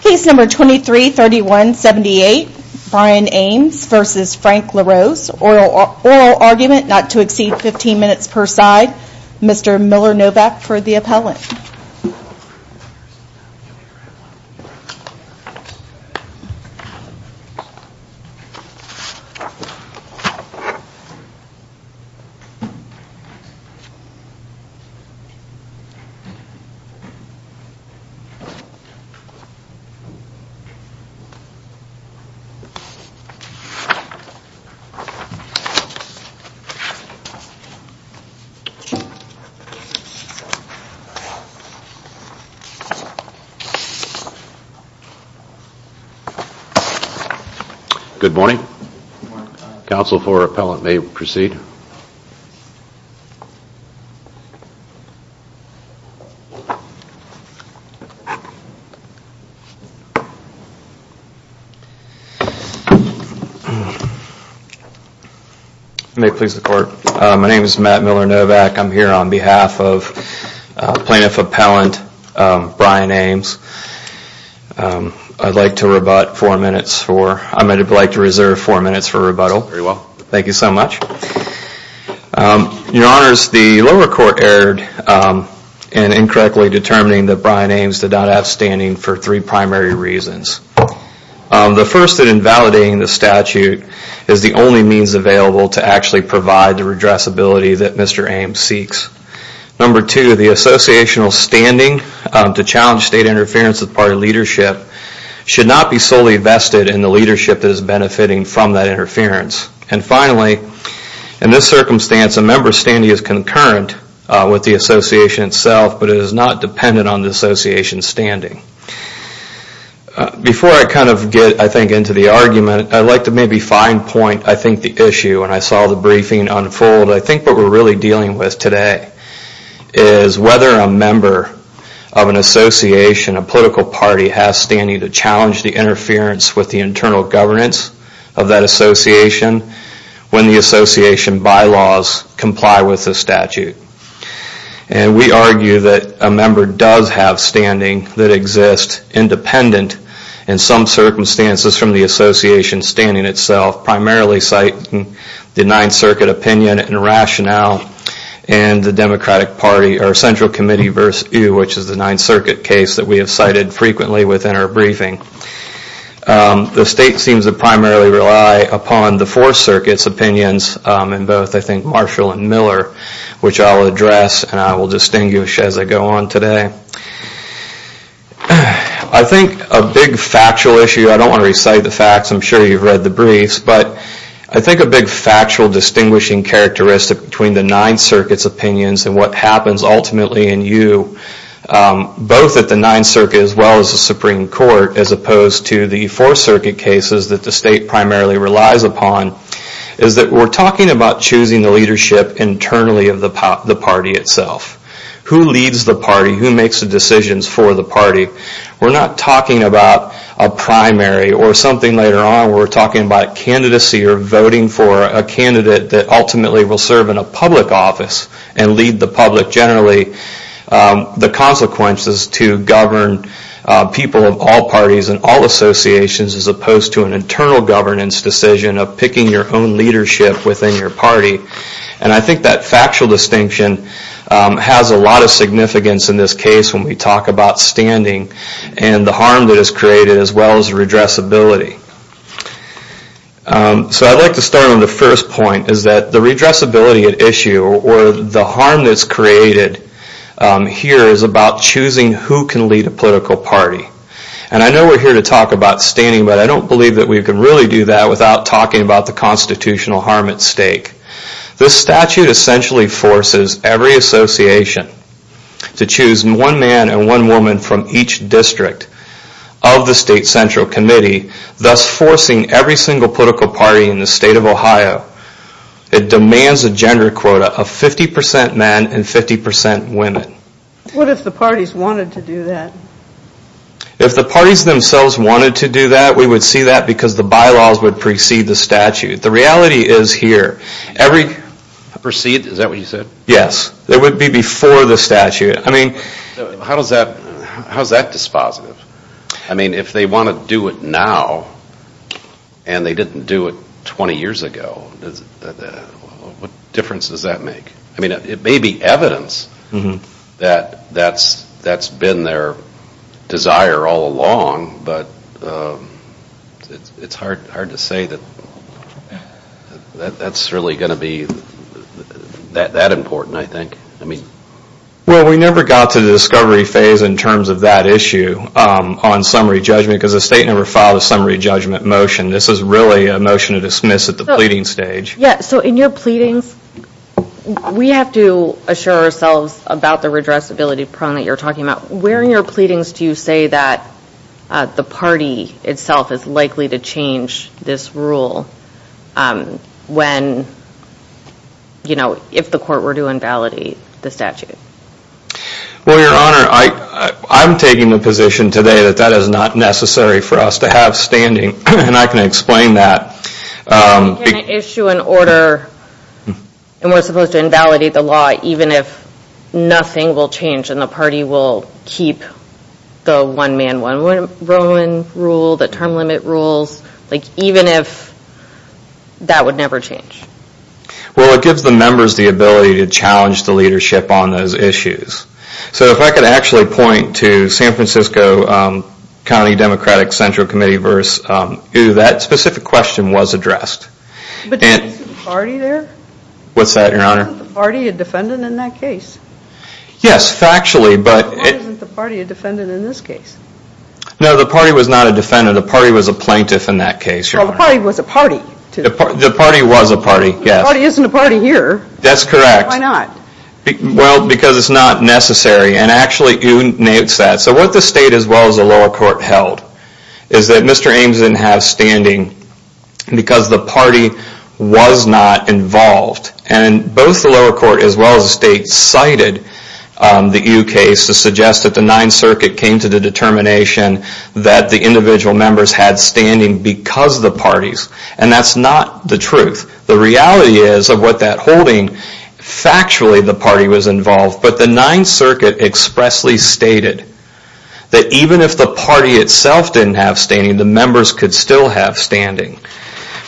Case number 23-3178, Brian Ames v. Frank LaRose. Oral argument not to exceed 15 minutes per side. Mr. Miller Novak for the appellant. Good morning, counsel for appellant may proceed. May it please the court, my name is Matt Miller Novak, I'm here on behalf of plaintiff appellant Brian Ames, I'd like to rebut 4 minutes for, I'd like to reserve 4 minutes for rebuttal. Thank you so much. Your honors, the lower court erred in incorrectly determining that Brian Ames did not have standing for three primary reasons. The first, that invalidating the statute is the only means available to actually provide the redressability that Mr. Ames seeks. Number two, the associational standing to challenge state interference as part of leadership should not be solely vested in the leadership that is benefiting from that interference. And finally, in this circumstance a member's standing is concurrent with the association itself but it is not dependent on the association's standing. Before I kind of get, I think, into the argument, I'd like to maybe fine point, I think, the issue when I saw the briefing unfold. I think what we're really dealing with today is whether a member of an association, a political party, has standing to challenge the interference with the internal governance of that association when the association bylaws comply with the statute. And we argue that a member does have standing that exists independent in some circumstances from the association standing itself, primarily citing the 9th Circuit opinion and rationale and the Democratic Party, or Central Committee v. Ewe, which is the 9th Circuit case that we have cited frequently within our briefing. The state seems to primarily rely upon the 4th Circuit's opinions in both, I think, Marshall and Miller, which I'll address and I will distinguish as I go on today. I think a big factual issue, I don't want to recite the facts, I'm sure you've read the briefs, but I think a big factual distinguishing characteristic between the 9th Circuit's and what happens ultimately in Ewe, both at the 9th Circuit as well as the Supreme Court, as opposed to the 4th Circuit cases that the state primarily relies upon, is that we're talking about choosing the leadership internally of the party itself. Who leads the party? Who makes the decisions for the party? We're not talking about a primary or something later on. We're talking about candidacy or voting for a candidate that ultimately will serve in the public office and lead the public generally. The consequences to govern people of all parties and all associations as opposed to an internal governance decision of picking your own leadership within your party. And I think that factual distinction has a lot of significance in this case when we talk about standing and the harm that is created as well as redressability. So I'd like to start on the first point, is that the redressability at issue or the harm that's created here is about choosing who can lead a political party. And I know we're here to talk about standing, but I don't believe that we can really do that without talking about the constitutional harm at stake. This statute essentially forces every association to choose one man and one woman from each district of the state central committee, thus forcing every single political party in the state of Ohio. It demands a gender quota of 50% men and 50% women. What if the parties wanted to do that? If the parties themselves wanted to do that, we would see that because the bylaws would precede the statute. The reality is here, every... Precede? Is that what you said? Yes. It would be before the statute. I mean, how's that dispositive? I mean, if they want to do it now and they didn't do it 20 years ago, what difference does that make? I mean, it may be evidence that that's been their desire all along, but it's hard to say that that's really going to be that important, I think. Well, we never got to the discovery phase in terms of that issue on summary judgment because the state never filed a summary judgment motion. This is really a motion to dismiss at the pleading stage. Yeah. So in your pleadings, we have to assure ourselves about the redressability problem that you're talking about. Where in your pleadings do you say that the party itself is likely to change this rule when, you know, if the court were to invalidate the statute? Well, Your Honor, I'm taking the position today that that is not necessary for us to have standing, and I can explain that. Can it issue an order and we're supposed to invalidate the law even if nothing will change and the party will keep the one-man-one-road rule, the term limit rules, like even if that would never change? Well, it gives the members the ability to challenge the leadership on those issues. So if I could actually point to San Francisco County Democratic Central Committee v. OO, that specific question was addressed. But isn't the party there? What's that, Your Honor? Isn't the party a defendant in that case? Yes, factually, but... Why isn't the party a defendant in this case? No, the party was not a defendant. The party was a plaintiff in that case, Your Honor. Well, the party was a party. The party was a party, yes. The party isn't a party here. That's correct. Why not? Well, because it's not necessary. And actually, OO notes that. So what the state as well as the lower court held is that Mr. Ames didn't have standing because the party was not involved. And both the lower court as well as the state cited the OO case to suggest that the Ninth Circuit came to the determination that the individual members had standing because of the parties. And that's not the truth. The reality is of what that holding, factually, the party was involved. But the Ninth Circuit expressly stated that even if the party itself didn't have standing, the members could still have standing.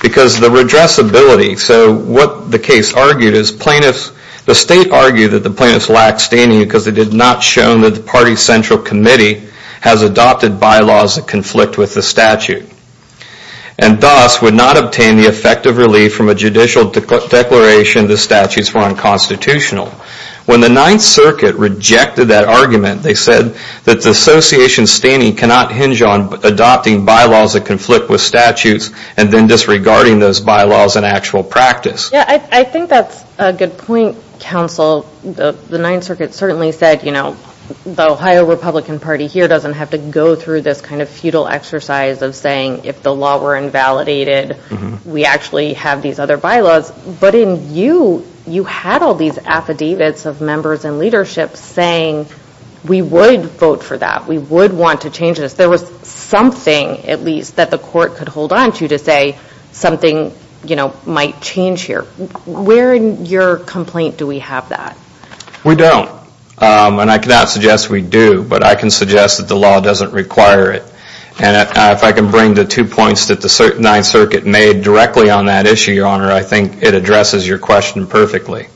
Because the redressability, so what the case argued is plaintiffs, the state argued that the plaintiffs lacked standing because it did not show that the party central committee has adopted bylaws that conflict with the statute. And thus, would not obtain the effective relief from a judicial declaration the statutes were unconstitutional. When the Ninth Circuit rejected that argument, they said that the association's standing cannot hinge on adopting bylaws that conflict with statutes and then disregarding those bylaws in actual practice. Yeah, I think that's a good point, counsel. The Ninth Circuit certainly said, you know, the Ohio Republican Party here doesn't have to go through this kind of futile exercise of saying if the law were invalidated, we actually have these other bylaws. But in you, you had all these affidavits of members and leadership saying we would vote for that, we would want to change this. There was something, at least, that the court could hold on to to say something, you know, might change here. Where in your complaint do we have that? We don't. And I cannot suggest we do, but I can suggest that the law doesn't require it. And if I can bring the two points that the Ninth Circuit made directly on that issue, Your Honor, I think it addresses your question perfectly.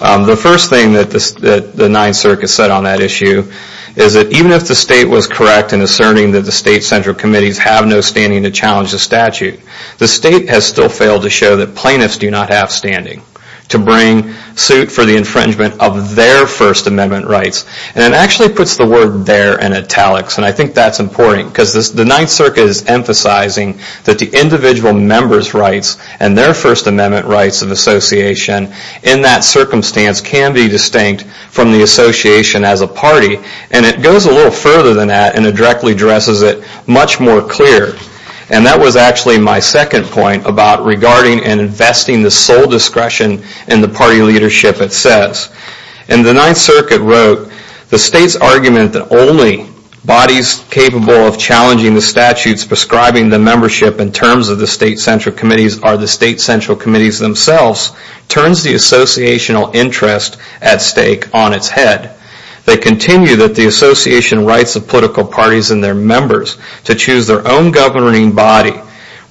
The first thing that the Ninth Circuit said on that issue is that even if the state was correct in asserting that the state central committees have no standing to challenge the statute, the state has still failed to show that plaintiffs do not have standing to bring suit for the infringement of their First Amendment rights. And it actually puts the word there in italics, and I think that's important because the Ninth Circuit is emphasizing that the individual member's rights and their First Amendment rights of association in that circumstance can be distinct from the association as a And it goes a little further than that, and it directly addresses it much more clear. And that was actually my second point about regarding and investing the sole discretion in the party leadership it says. And the Ninth Circuit wrote, the state's argument that only bodies capable of challenging the statutes prescribing the membership in terms of the state central committees are the state central committees themselves, turns the associational interest at stake on its head. They continue that the association rights of political parties and their members to choose their own governing body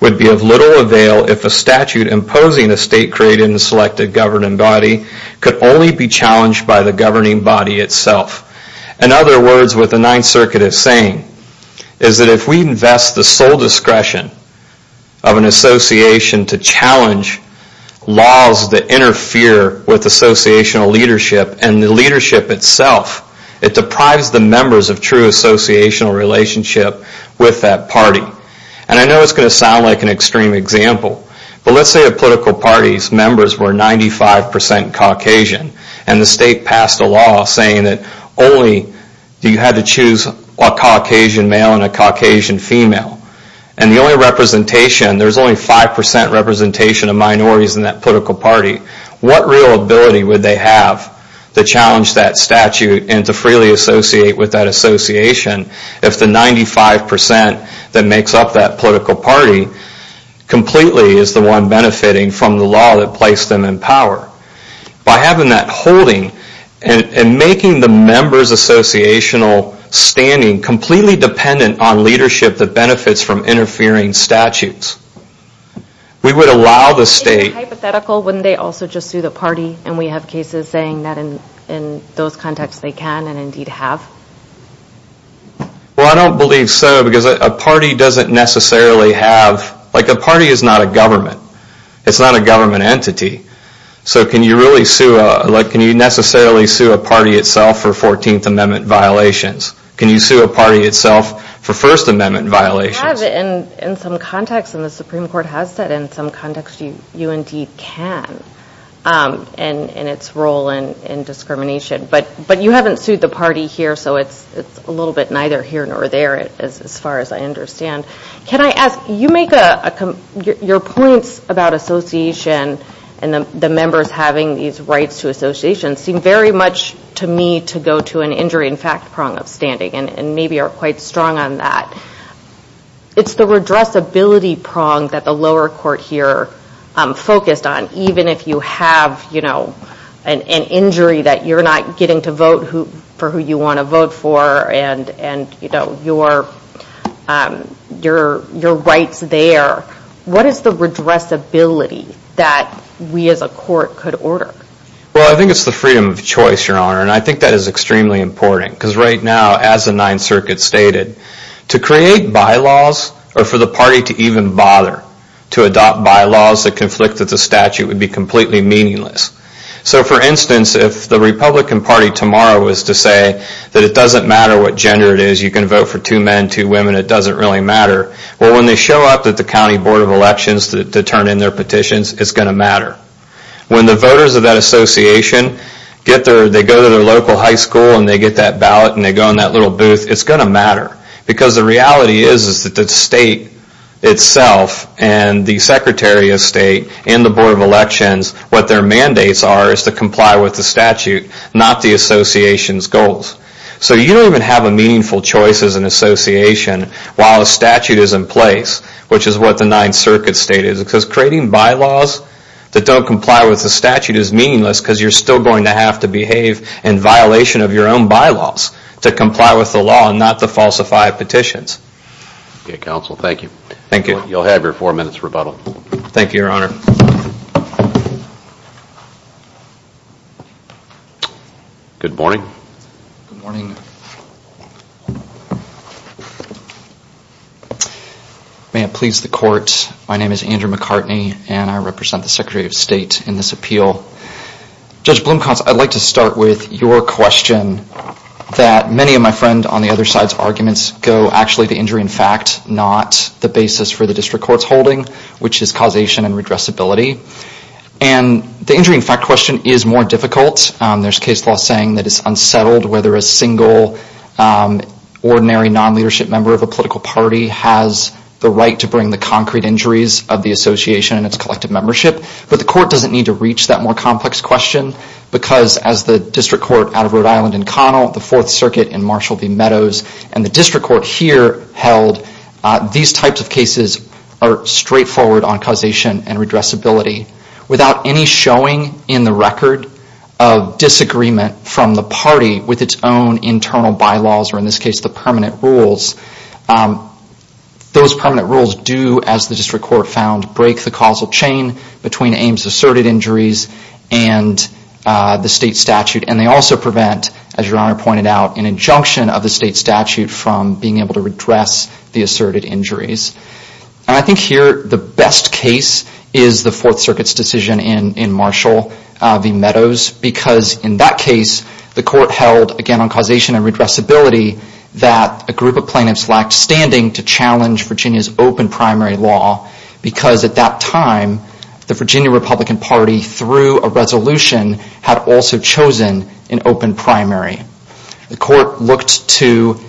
would be of little avail if a statute imposing a state created in the selected governing body could only be challenged by the governing body itself. In other words, what the Ninth Circuit is saying is that if we invest the sole discretion of an association to challenge laws that interfere with associational leadership and the leadership itself, it deprives the members of true associational relationship with that party. And I know it's going to sound like an extreme example, but let's say a political party's members were 95% Caucasian and the state passed a law saying that only you had to choose a Caucasian male and a Caucasian female. And the only representation, there's only 5% representation of minorities in that political party. What real ability would they have to challenge that statute and to freely associate with that association if the 95% that makes up that political party completely is the one benefiting from the law that placed them in power? By having that holding and making the members' associational standing completely dependent on leadership that benefits from interfering statutes. We would allow the state... If it's hypothetical, wouldn't they also just sue the party? And we have cases saying that in those contexts they can and indeed have. Well, I don't believe so because a party doesn't necessarily have... Like a party is not a government. It's not a government entity. So can you really sue a... Like can you necessarily sue a party itself for 14th Amendment violations? Can you sue a party itself for First Amendment violations? You have in some contexts and the Supreme Court has said in some contexts you indeed can in its role in discrimination. But you haven't sued the party here so it's a little bit neither here nor there as far as I understand. Can I ask, you make a... Your points about association and the members having these rights to association seem very much to me to go to an injury in fact prong of standing and maybe are quite strong on that. It's the redressability prong that the lower court here focused on. Even if you have an injury that you're not getting to vote for who you want to vote for and your rights there, what is the redressability that we as a court could order? Well, I think it's the freedom of choice, Your Honor. And I think that is extremely important. Because right now as the Ninth Circuit stated, to create bylaws or for the party to even bother to adopt bylaws that conflict with the statute would be completely meaningless. So for instance, if the Republican Party tomorrow was to say that it doesn't matter what gender it is, you can vote for two men, two women, it doesn't really matter. Well, when they show up at the county board of elections to turn in their petitions, it's going to matter. When the voters of that association go to their local high school and they get that ballot and they go in that little booth, it's going to matter. Because the reality is that the state itself and the secretary of state and the board of elections, what their mandates are is to comply with the statute, not the association's goals. So you don't even have a meaningful choice as an association while a statute is in place, which is what the Ninth Circuit stated. Because creating bylaws that don't comply with the statute is meaningless because you're still going to have to behave in violation of your own bylaws to comply with the law and not to falsify petitions. Okay, counsel, thank you. Thank you. You'll have your four minutes rebuttal. Thank you, your honor. Good morning. Good morning. May it please the court, my name is Andrew McCartney and I represent the secretary of state in this appeal. Judge Blumkopf, I'd like to start with your question that many of my friend on the other side's arguments go actually to injury in fact, not the basis for the district court's holding, which is causation and redressability. And the injury in fact question is more difficult. There's case law saying that it's unsettled whether a single ordinary non-leadership member of a political party has the right to bring the concrete injuries of the association and its collective membership. But the court doesn't need to reach that more complex question because as the district court out of Rhode Island in Connell, the Fourth Circuit in Marshall v. Meadows, and the district court here held these types of cases are straightforward on causation and redressability. Without any showing in the record of disagreement from the party with its own internal bylaws or in this case the permanent rules. Those permanent rules do, as the district court found, break the causal chain between Ames asserted injuries and the state statute. And they also prevent, as your honor pointed out, an injunction of the state statute from being able to redress the asserted injuries. And I think here the best case is the Fourth Circuit's decision in Marshall v. Meadows because in that case the court held, again on causation and redressability, that a group of plaintiffs lacked standing to challenge Virginia's open primary law because at that time the Virginia Republican Party, through a resolution, had also chosen an open primary. The court looked to,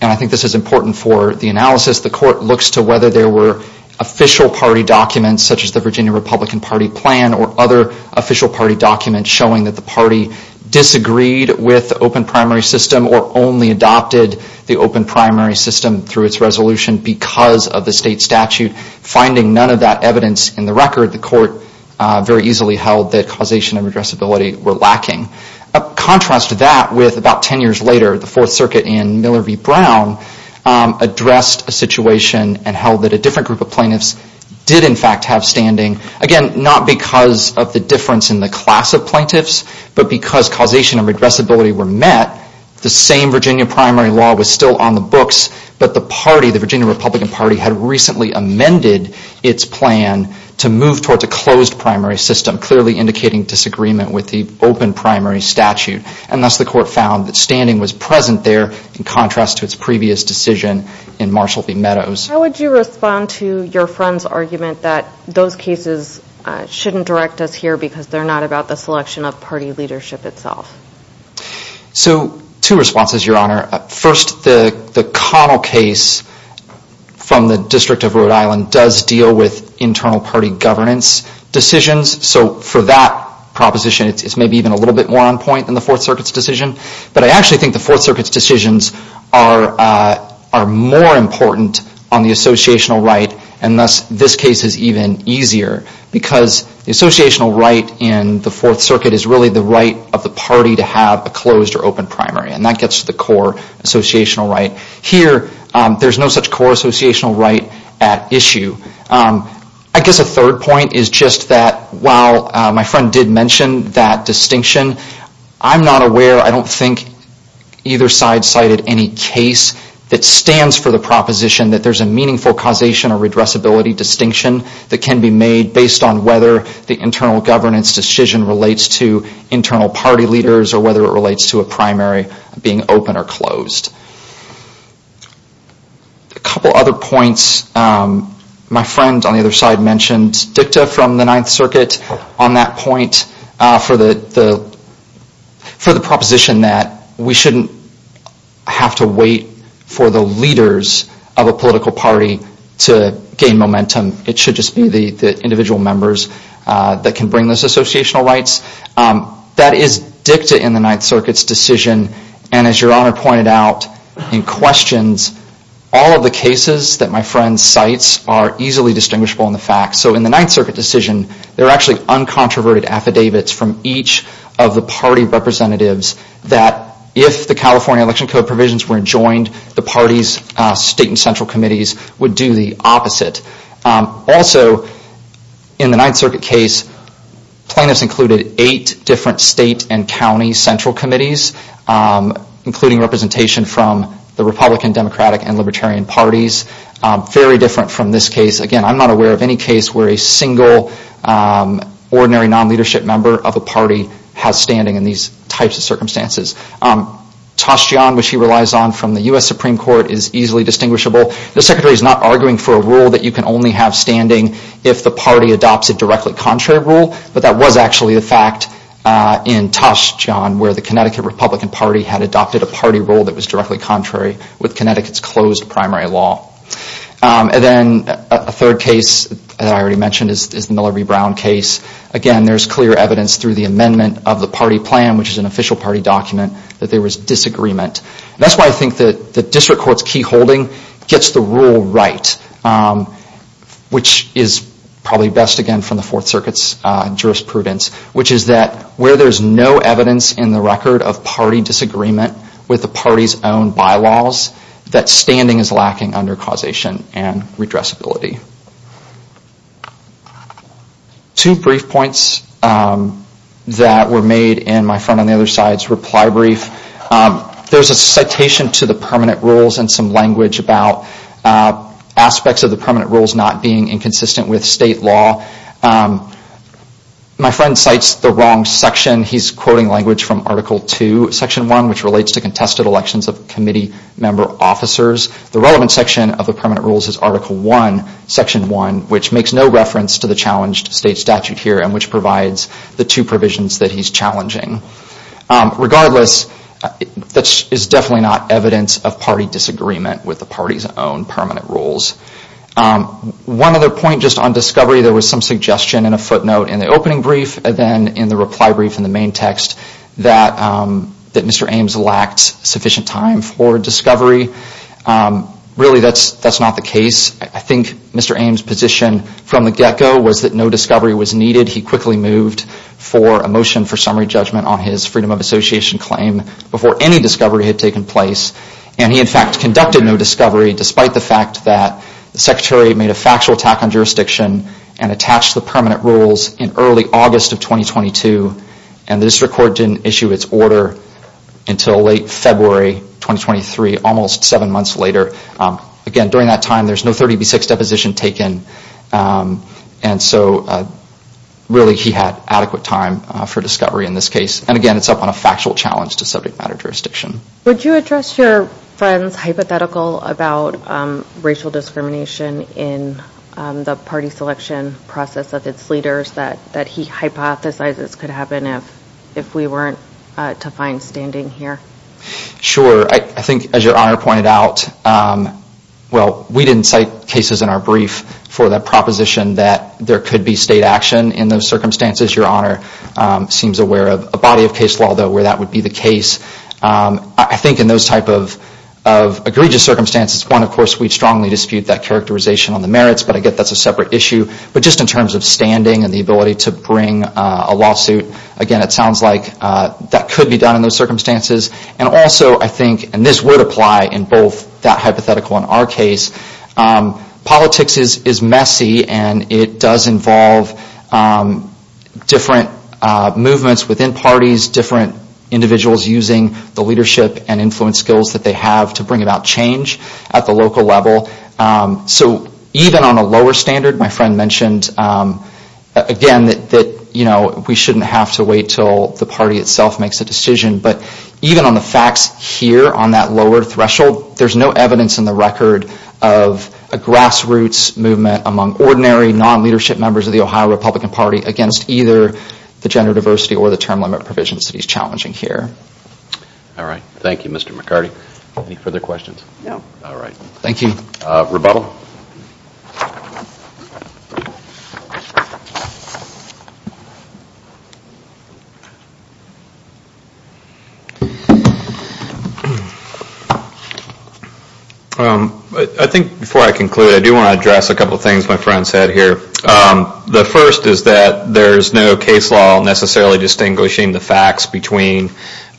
and I think this is important for the analysis, the court looks to whether there were official party documents such as the Virginia Republican Party plan or other official party documents showing that the party disagreed with the open primary system or only adopted the open primary system through its resolution because of the state statute. Finding none of that evidence in the record, the court very easily held that causation and redressability were lacking. Contrast that with about ten years later, the Fourth Circuit in Miller v. Brown addressed a situation and held that a different group of plaintiffs did in fact have standing. Again, not because of the difference in the class of plaintiffs, but because causation and redressability were met. The same Virginia primary law was still on the books, but the party, the Virginia Republican Party, had recently amended its plan to move towards a closed primary system, clearly indicating disagreement with the open primary statute. And thus the court found that standing was present there in contrast to its previous decision in Marshall v. Meadows. How would you respond to your friend's argument that those cases shouldn't direct us here because they're not about the selection of party leadership itself? So, two responses, Your Honor. First, the Connell case from the District of Rhode Island does deal with internal party governance decisions, so for that proposition it's maybe even a little bit more on point than the Fourth Circuit's decision. But I actually think the Fourth Circuit's decisions are more important on the associational right, and thus this case is even easier because the associational right in the Fourth Circuit is really the right of the party to have a closed or open primary, and that gets to the core associational right. Here, there's no such core associational right at issue. I guess a third point is just that while my friend did mention that distinction, I'm not aware, I don't think either side cited any case that stands for the proposition that there's a meaningful causation or redressability distinction that can be made based on whether the internal governance decision relates to internal party leaders or whether it relates to a primary being open or closed. A couple other points, my friend on the other side mentioned DICTA from the Ninth Circuit on that point for the proposition that we shouldn't have to wait for the leaders of a political party to gain momentum. It should just be the individual members that can bring those associational rights. That is DICTA in the Ninth Circuit's decision, and as Your Honor pointed out in questions, all of the cases that my friend cites are easily distinguishable in the facts. In the Ninth Circuit decision, there are actually uncontroverted affidavits from each of the party representatives that if the California Election Code provisions were joined, the party's state and central committees would do the opposite. Also, in the Ninth Circuit case, plaintiffs included eight different state and county central committees, including representation from the Republican, Democratic, and Libertarian parties. Very different from this case. Again, I'm not aware of any case where a single ordinary non-leadership member of a party has standing in these types of circumstances. Tashjian, which he relies on from the U.S. Supreme Court, is easily distinguishable. The Secretary is not arguing for a rule that you can only have standing if the party adopts a directly contrary rule, but that was actually the fact in Tashjian where the Connecticut Republican Party had adopted a party rule that was directly contrary with Connecticut's closed primary law. And then a third case that I already mentioned is the Miller v. Brown case. Again, there's clear evidence through the amendment of the party plan, which is an official party document, that there was disagreement. That's why I think that the District Court's key holding gets the rule right, which is probably best, again, from the Fourth Circuit's jurisprudence, which is that where there's no evidence in the record of party disagreement with the party's own bylaws, that standing is lacking under causation and redressability. Two brief points that were made in my friend on the other side's reply brief. There's a citation to the permanent rules and some language about aspects of the permanent rules not being inconsistent with state law. My friend cites the wrong section. He's quoting language from Article 2, Section 1, which relates to contested elections of committee member officers. The relevant section of the permanent rules is Article 1, Section 1, which makes no reference to the challenged state statute here and which provides the two provisions that he's challenging. Regardless, that is definitely not evidence of party disagreement with the party's own permanent rules. One other point just on discovery. There was some suggestion in a footnote in the opening brief and then in the reply brief in the main text that Mr. Ames lacked sufficient time for discovery. Really, that's not the case. I think Mr. Ames' position from the get-go was that no discovery was needed. He quickly moved for a motion for summary judgment on his Freedom of Association claim before any discovery had taken place. And he, in fact, conducted no discovery despite the fact that the Secretary made a factual attack on jurisdiction and attached the permanent rules in early August of 2022. And the district court didn't issue its order until late February 2023, almost seven months later. Again, during that time, there's no 30B6 deposition taken. And so, really, he had adequate time for discovery in this case. And again, it's up on a factual challenge to subject matter jurisdiction. Would you address your friend's hypothetical about racial discrimination in the party selection process of its leaders that he hypothesizes could happen if we weren't to find standing here? Sure. I think, as Your Honor pointed out, well, we didn't cite cases in our brief for the proposition that there could be state action in those circumstances. Your Honor seems aware of a body of case law, though, where that would be the case. I think in those type of egregious circumstances, one, of course, we strongly dispute that characterization on the merits, but I get that's a separate issue. But just in terms of standing and the ability to bring a lawsuit, again, it sounds like that could be done in those circumstances. And also, I think, and this would apply in both that hypothetical and our case, politics is messy and it does involve different movements within parties, different individuals using the leadership and influence skills that they have to bring about change at the local level. So even on a lower standard, my friend mentioned, again, that we shouldn't have to wait until the party itself makes a decision. But even on the facts here on that lower threshold, there's no evidence in the record of a grassroots movement among ordinary, non-leadership members of the Ohio Republican Party against either the gender diversity or the term limit provisions that he's challenging here. All right. Thank you, Mr. McCarty. Any further questions? No. All right. Thank you. Rebuttal? I think before I conclude, I do want to address a couple of things my friend said here. The first is that there's no case law necessarily distinguishing the facts between something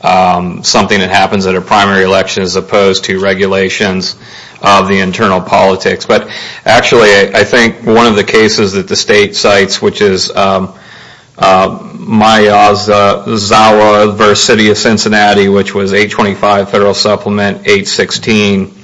that happens at a primary election as opposed to regulations of the internal politics. But actually, I think one of the cases that the state cites, which is Myozawa versus City of Cincinnati, which was 825 Federal Supplement, 816.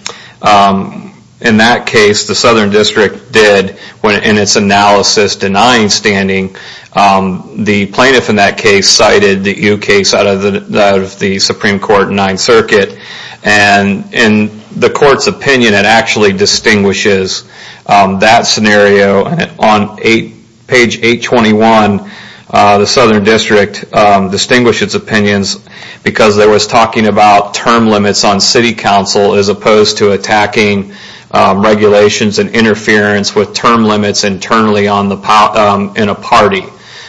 In that case, the Southern District did, in its analysis, denying standing. The plaintiff in that case cited the U case out of the Supreme Court in Ninth Circuit. And in the court's opinion, it actually distinguishes that scenario. On page 821, the Southern District distinguished its opinions because it was talking about term limits on city council as opposed to attacking regulations and interference with term limits internally in a party.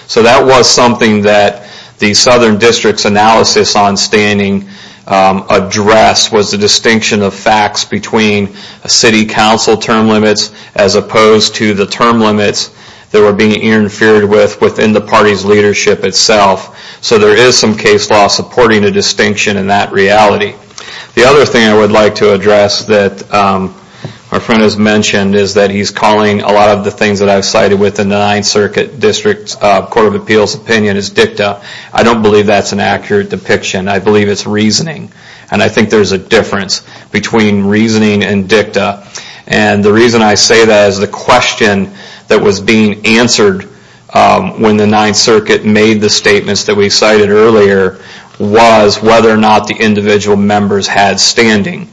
So that was something that the Southern District's analysis on standing addressed was the distinction of facts between city council term limits as opposed to the term limits that were being interfered with within the party's leadership itself. So there is some case law supporting a distinction in that reality. The other thing I would like to address that my friend has mentioned is that he's calling a lot of the things that I've cited within the Ninth Circuit District Court of Appeals opinion as dicta. I don't believe that's an accurate depiction. I believe it's reasoning. And I think there's a difference between reasoning and dicta. And the reason I say that is the question that was being answered when the Ninth Circuit made the statements that we cited earlier was whether or not the individual members had standing.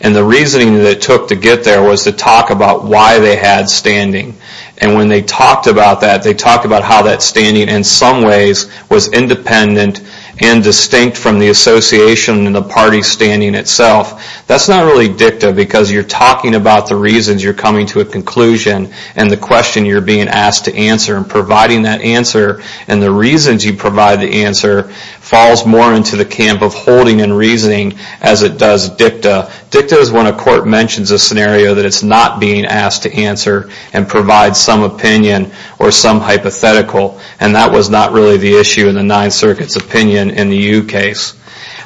And the reasoning that it took to get there was to talk about why they had standing. And when they talked about that, they talked about how that standing in some ways was independent and distinct from the association and the party's standing itself. That's not really dicta because you're talking about the reasons you're coming to a conclusion and the question you're being asked to answer and providing that answer and the reasons you provide the answer falls more into the camp of holding and reasoning as it does dicta. Dicta is when a court mentions a scenario that it's not being asked to answer and provides some opinion or some hypothetical. And that was not really the issue in the Ninth Circuit's opinion in the Yu case.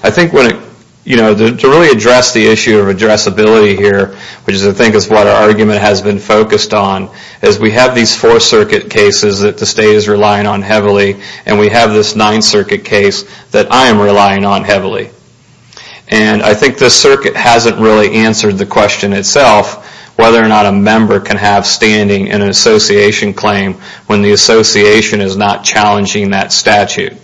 I think to really address the issue of addressability here, which I think is what our argument has been focused on, is we have these Fourth Circuit cases that the state is relying on heavily and we have this Ninth Circuit case that I am relying on heavily. And I think the circuit hasn't really answered the question itself whether or not a member can have standing in an association claim when the association is not challenging that statute.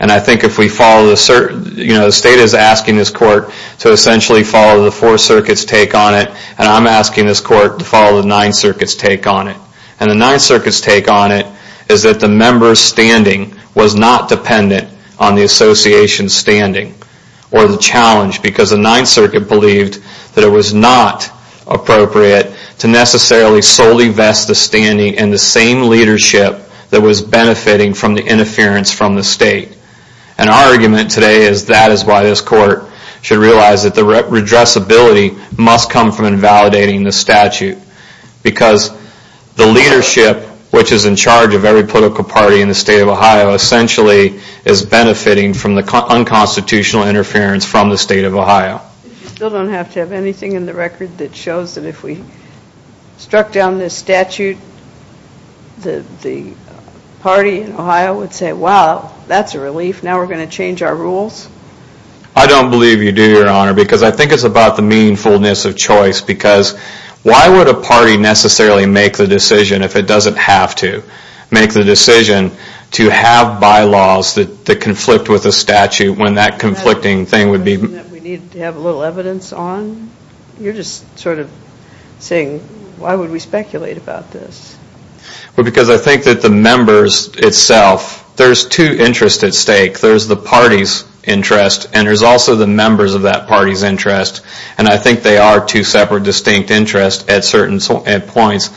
And I think if we follow the... You know, the state is asking this court to essentially follow the Fourth Circuit's take on it and I'm asking this court to follow the Ninth Circuit's take on it. And the Ninth Circuit's take on it is that the member's standing was not dependent on the association's standing or the challenge because the Ninth Circuit believed that it was not appropriate to necessarily solely vest the standing in the same leadership that was benefiting from the interference from the state. And our argument today is that is why this court should realize that the redressability must come from invalidating the statute because the leadership which is in charge of every political party in the state of Ohio essentially is benefiting from the unconstitutional interference from the state of Ohio. You still don't have to have anything in the record that shows that if we struck down this statute the party in Ohio would say wow, that's a relief, now we're going to change our rules? I don't believe you do, Your Honor, because I think it's about the meaningfulness of choice because why would a party necessarily make the decision if it doesn't have to make the decision to have bylaws that conflict with the statute when that conflicting thing would be... We need to have a little evidence on? You're just sort of saying why would we speculate about this? Well, because I think that the members itself, there's two interests at stake. There's the party's interest and there's also the members of that party's interest and I think they are two separate distinct interests at certain points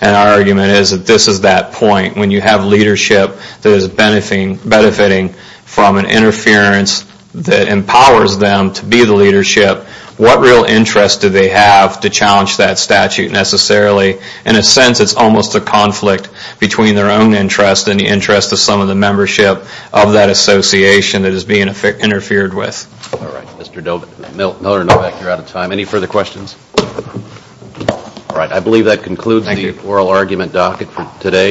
and our argument is that this is that point when you have leadership that is benefiting from an interference that empowers them to be the leadership, what real interest do they have to challenge that statute necessarily? In a sense, it's almost a conflict between their own interest and the interest of some of the membership of that association that is being interfered with. All right, Mr. Miller and Novak, you're out of time. Any further questions? All right, I believe that concludes the oral argument docket for today.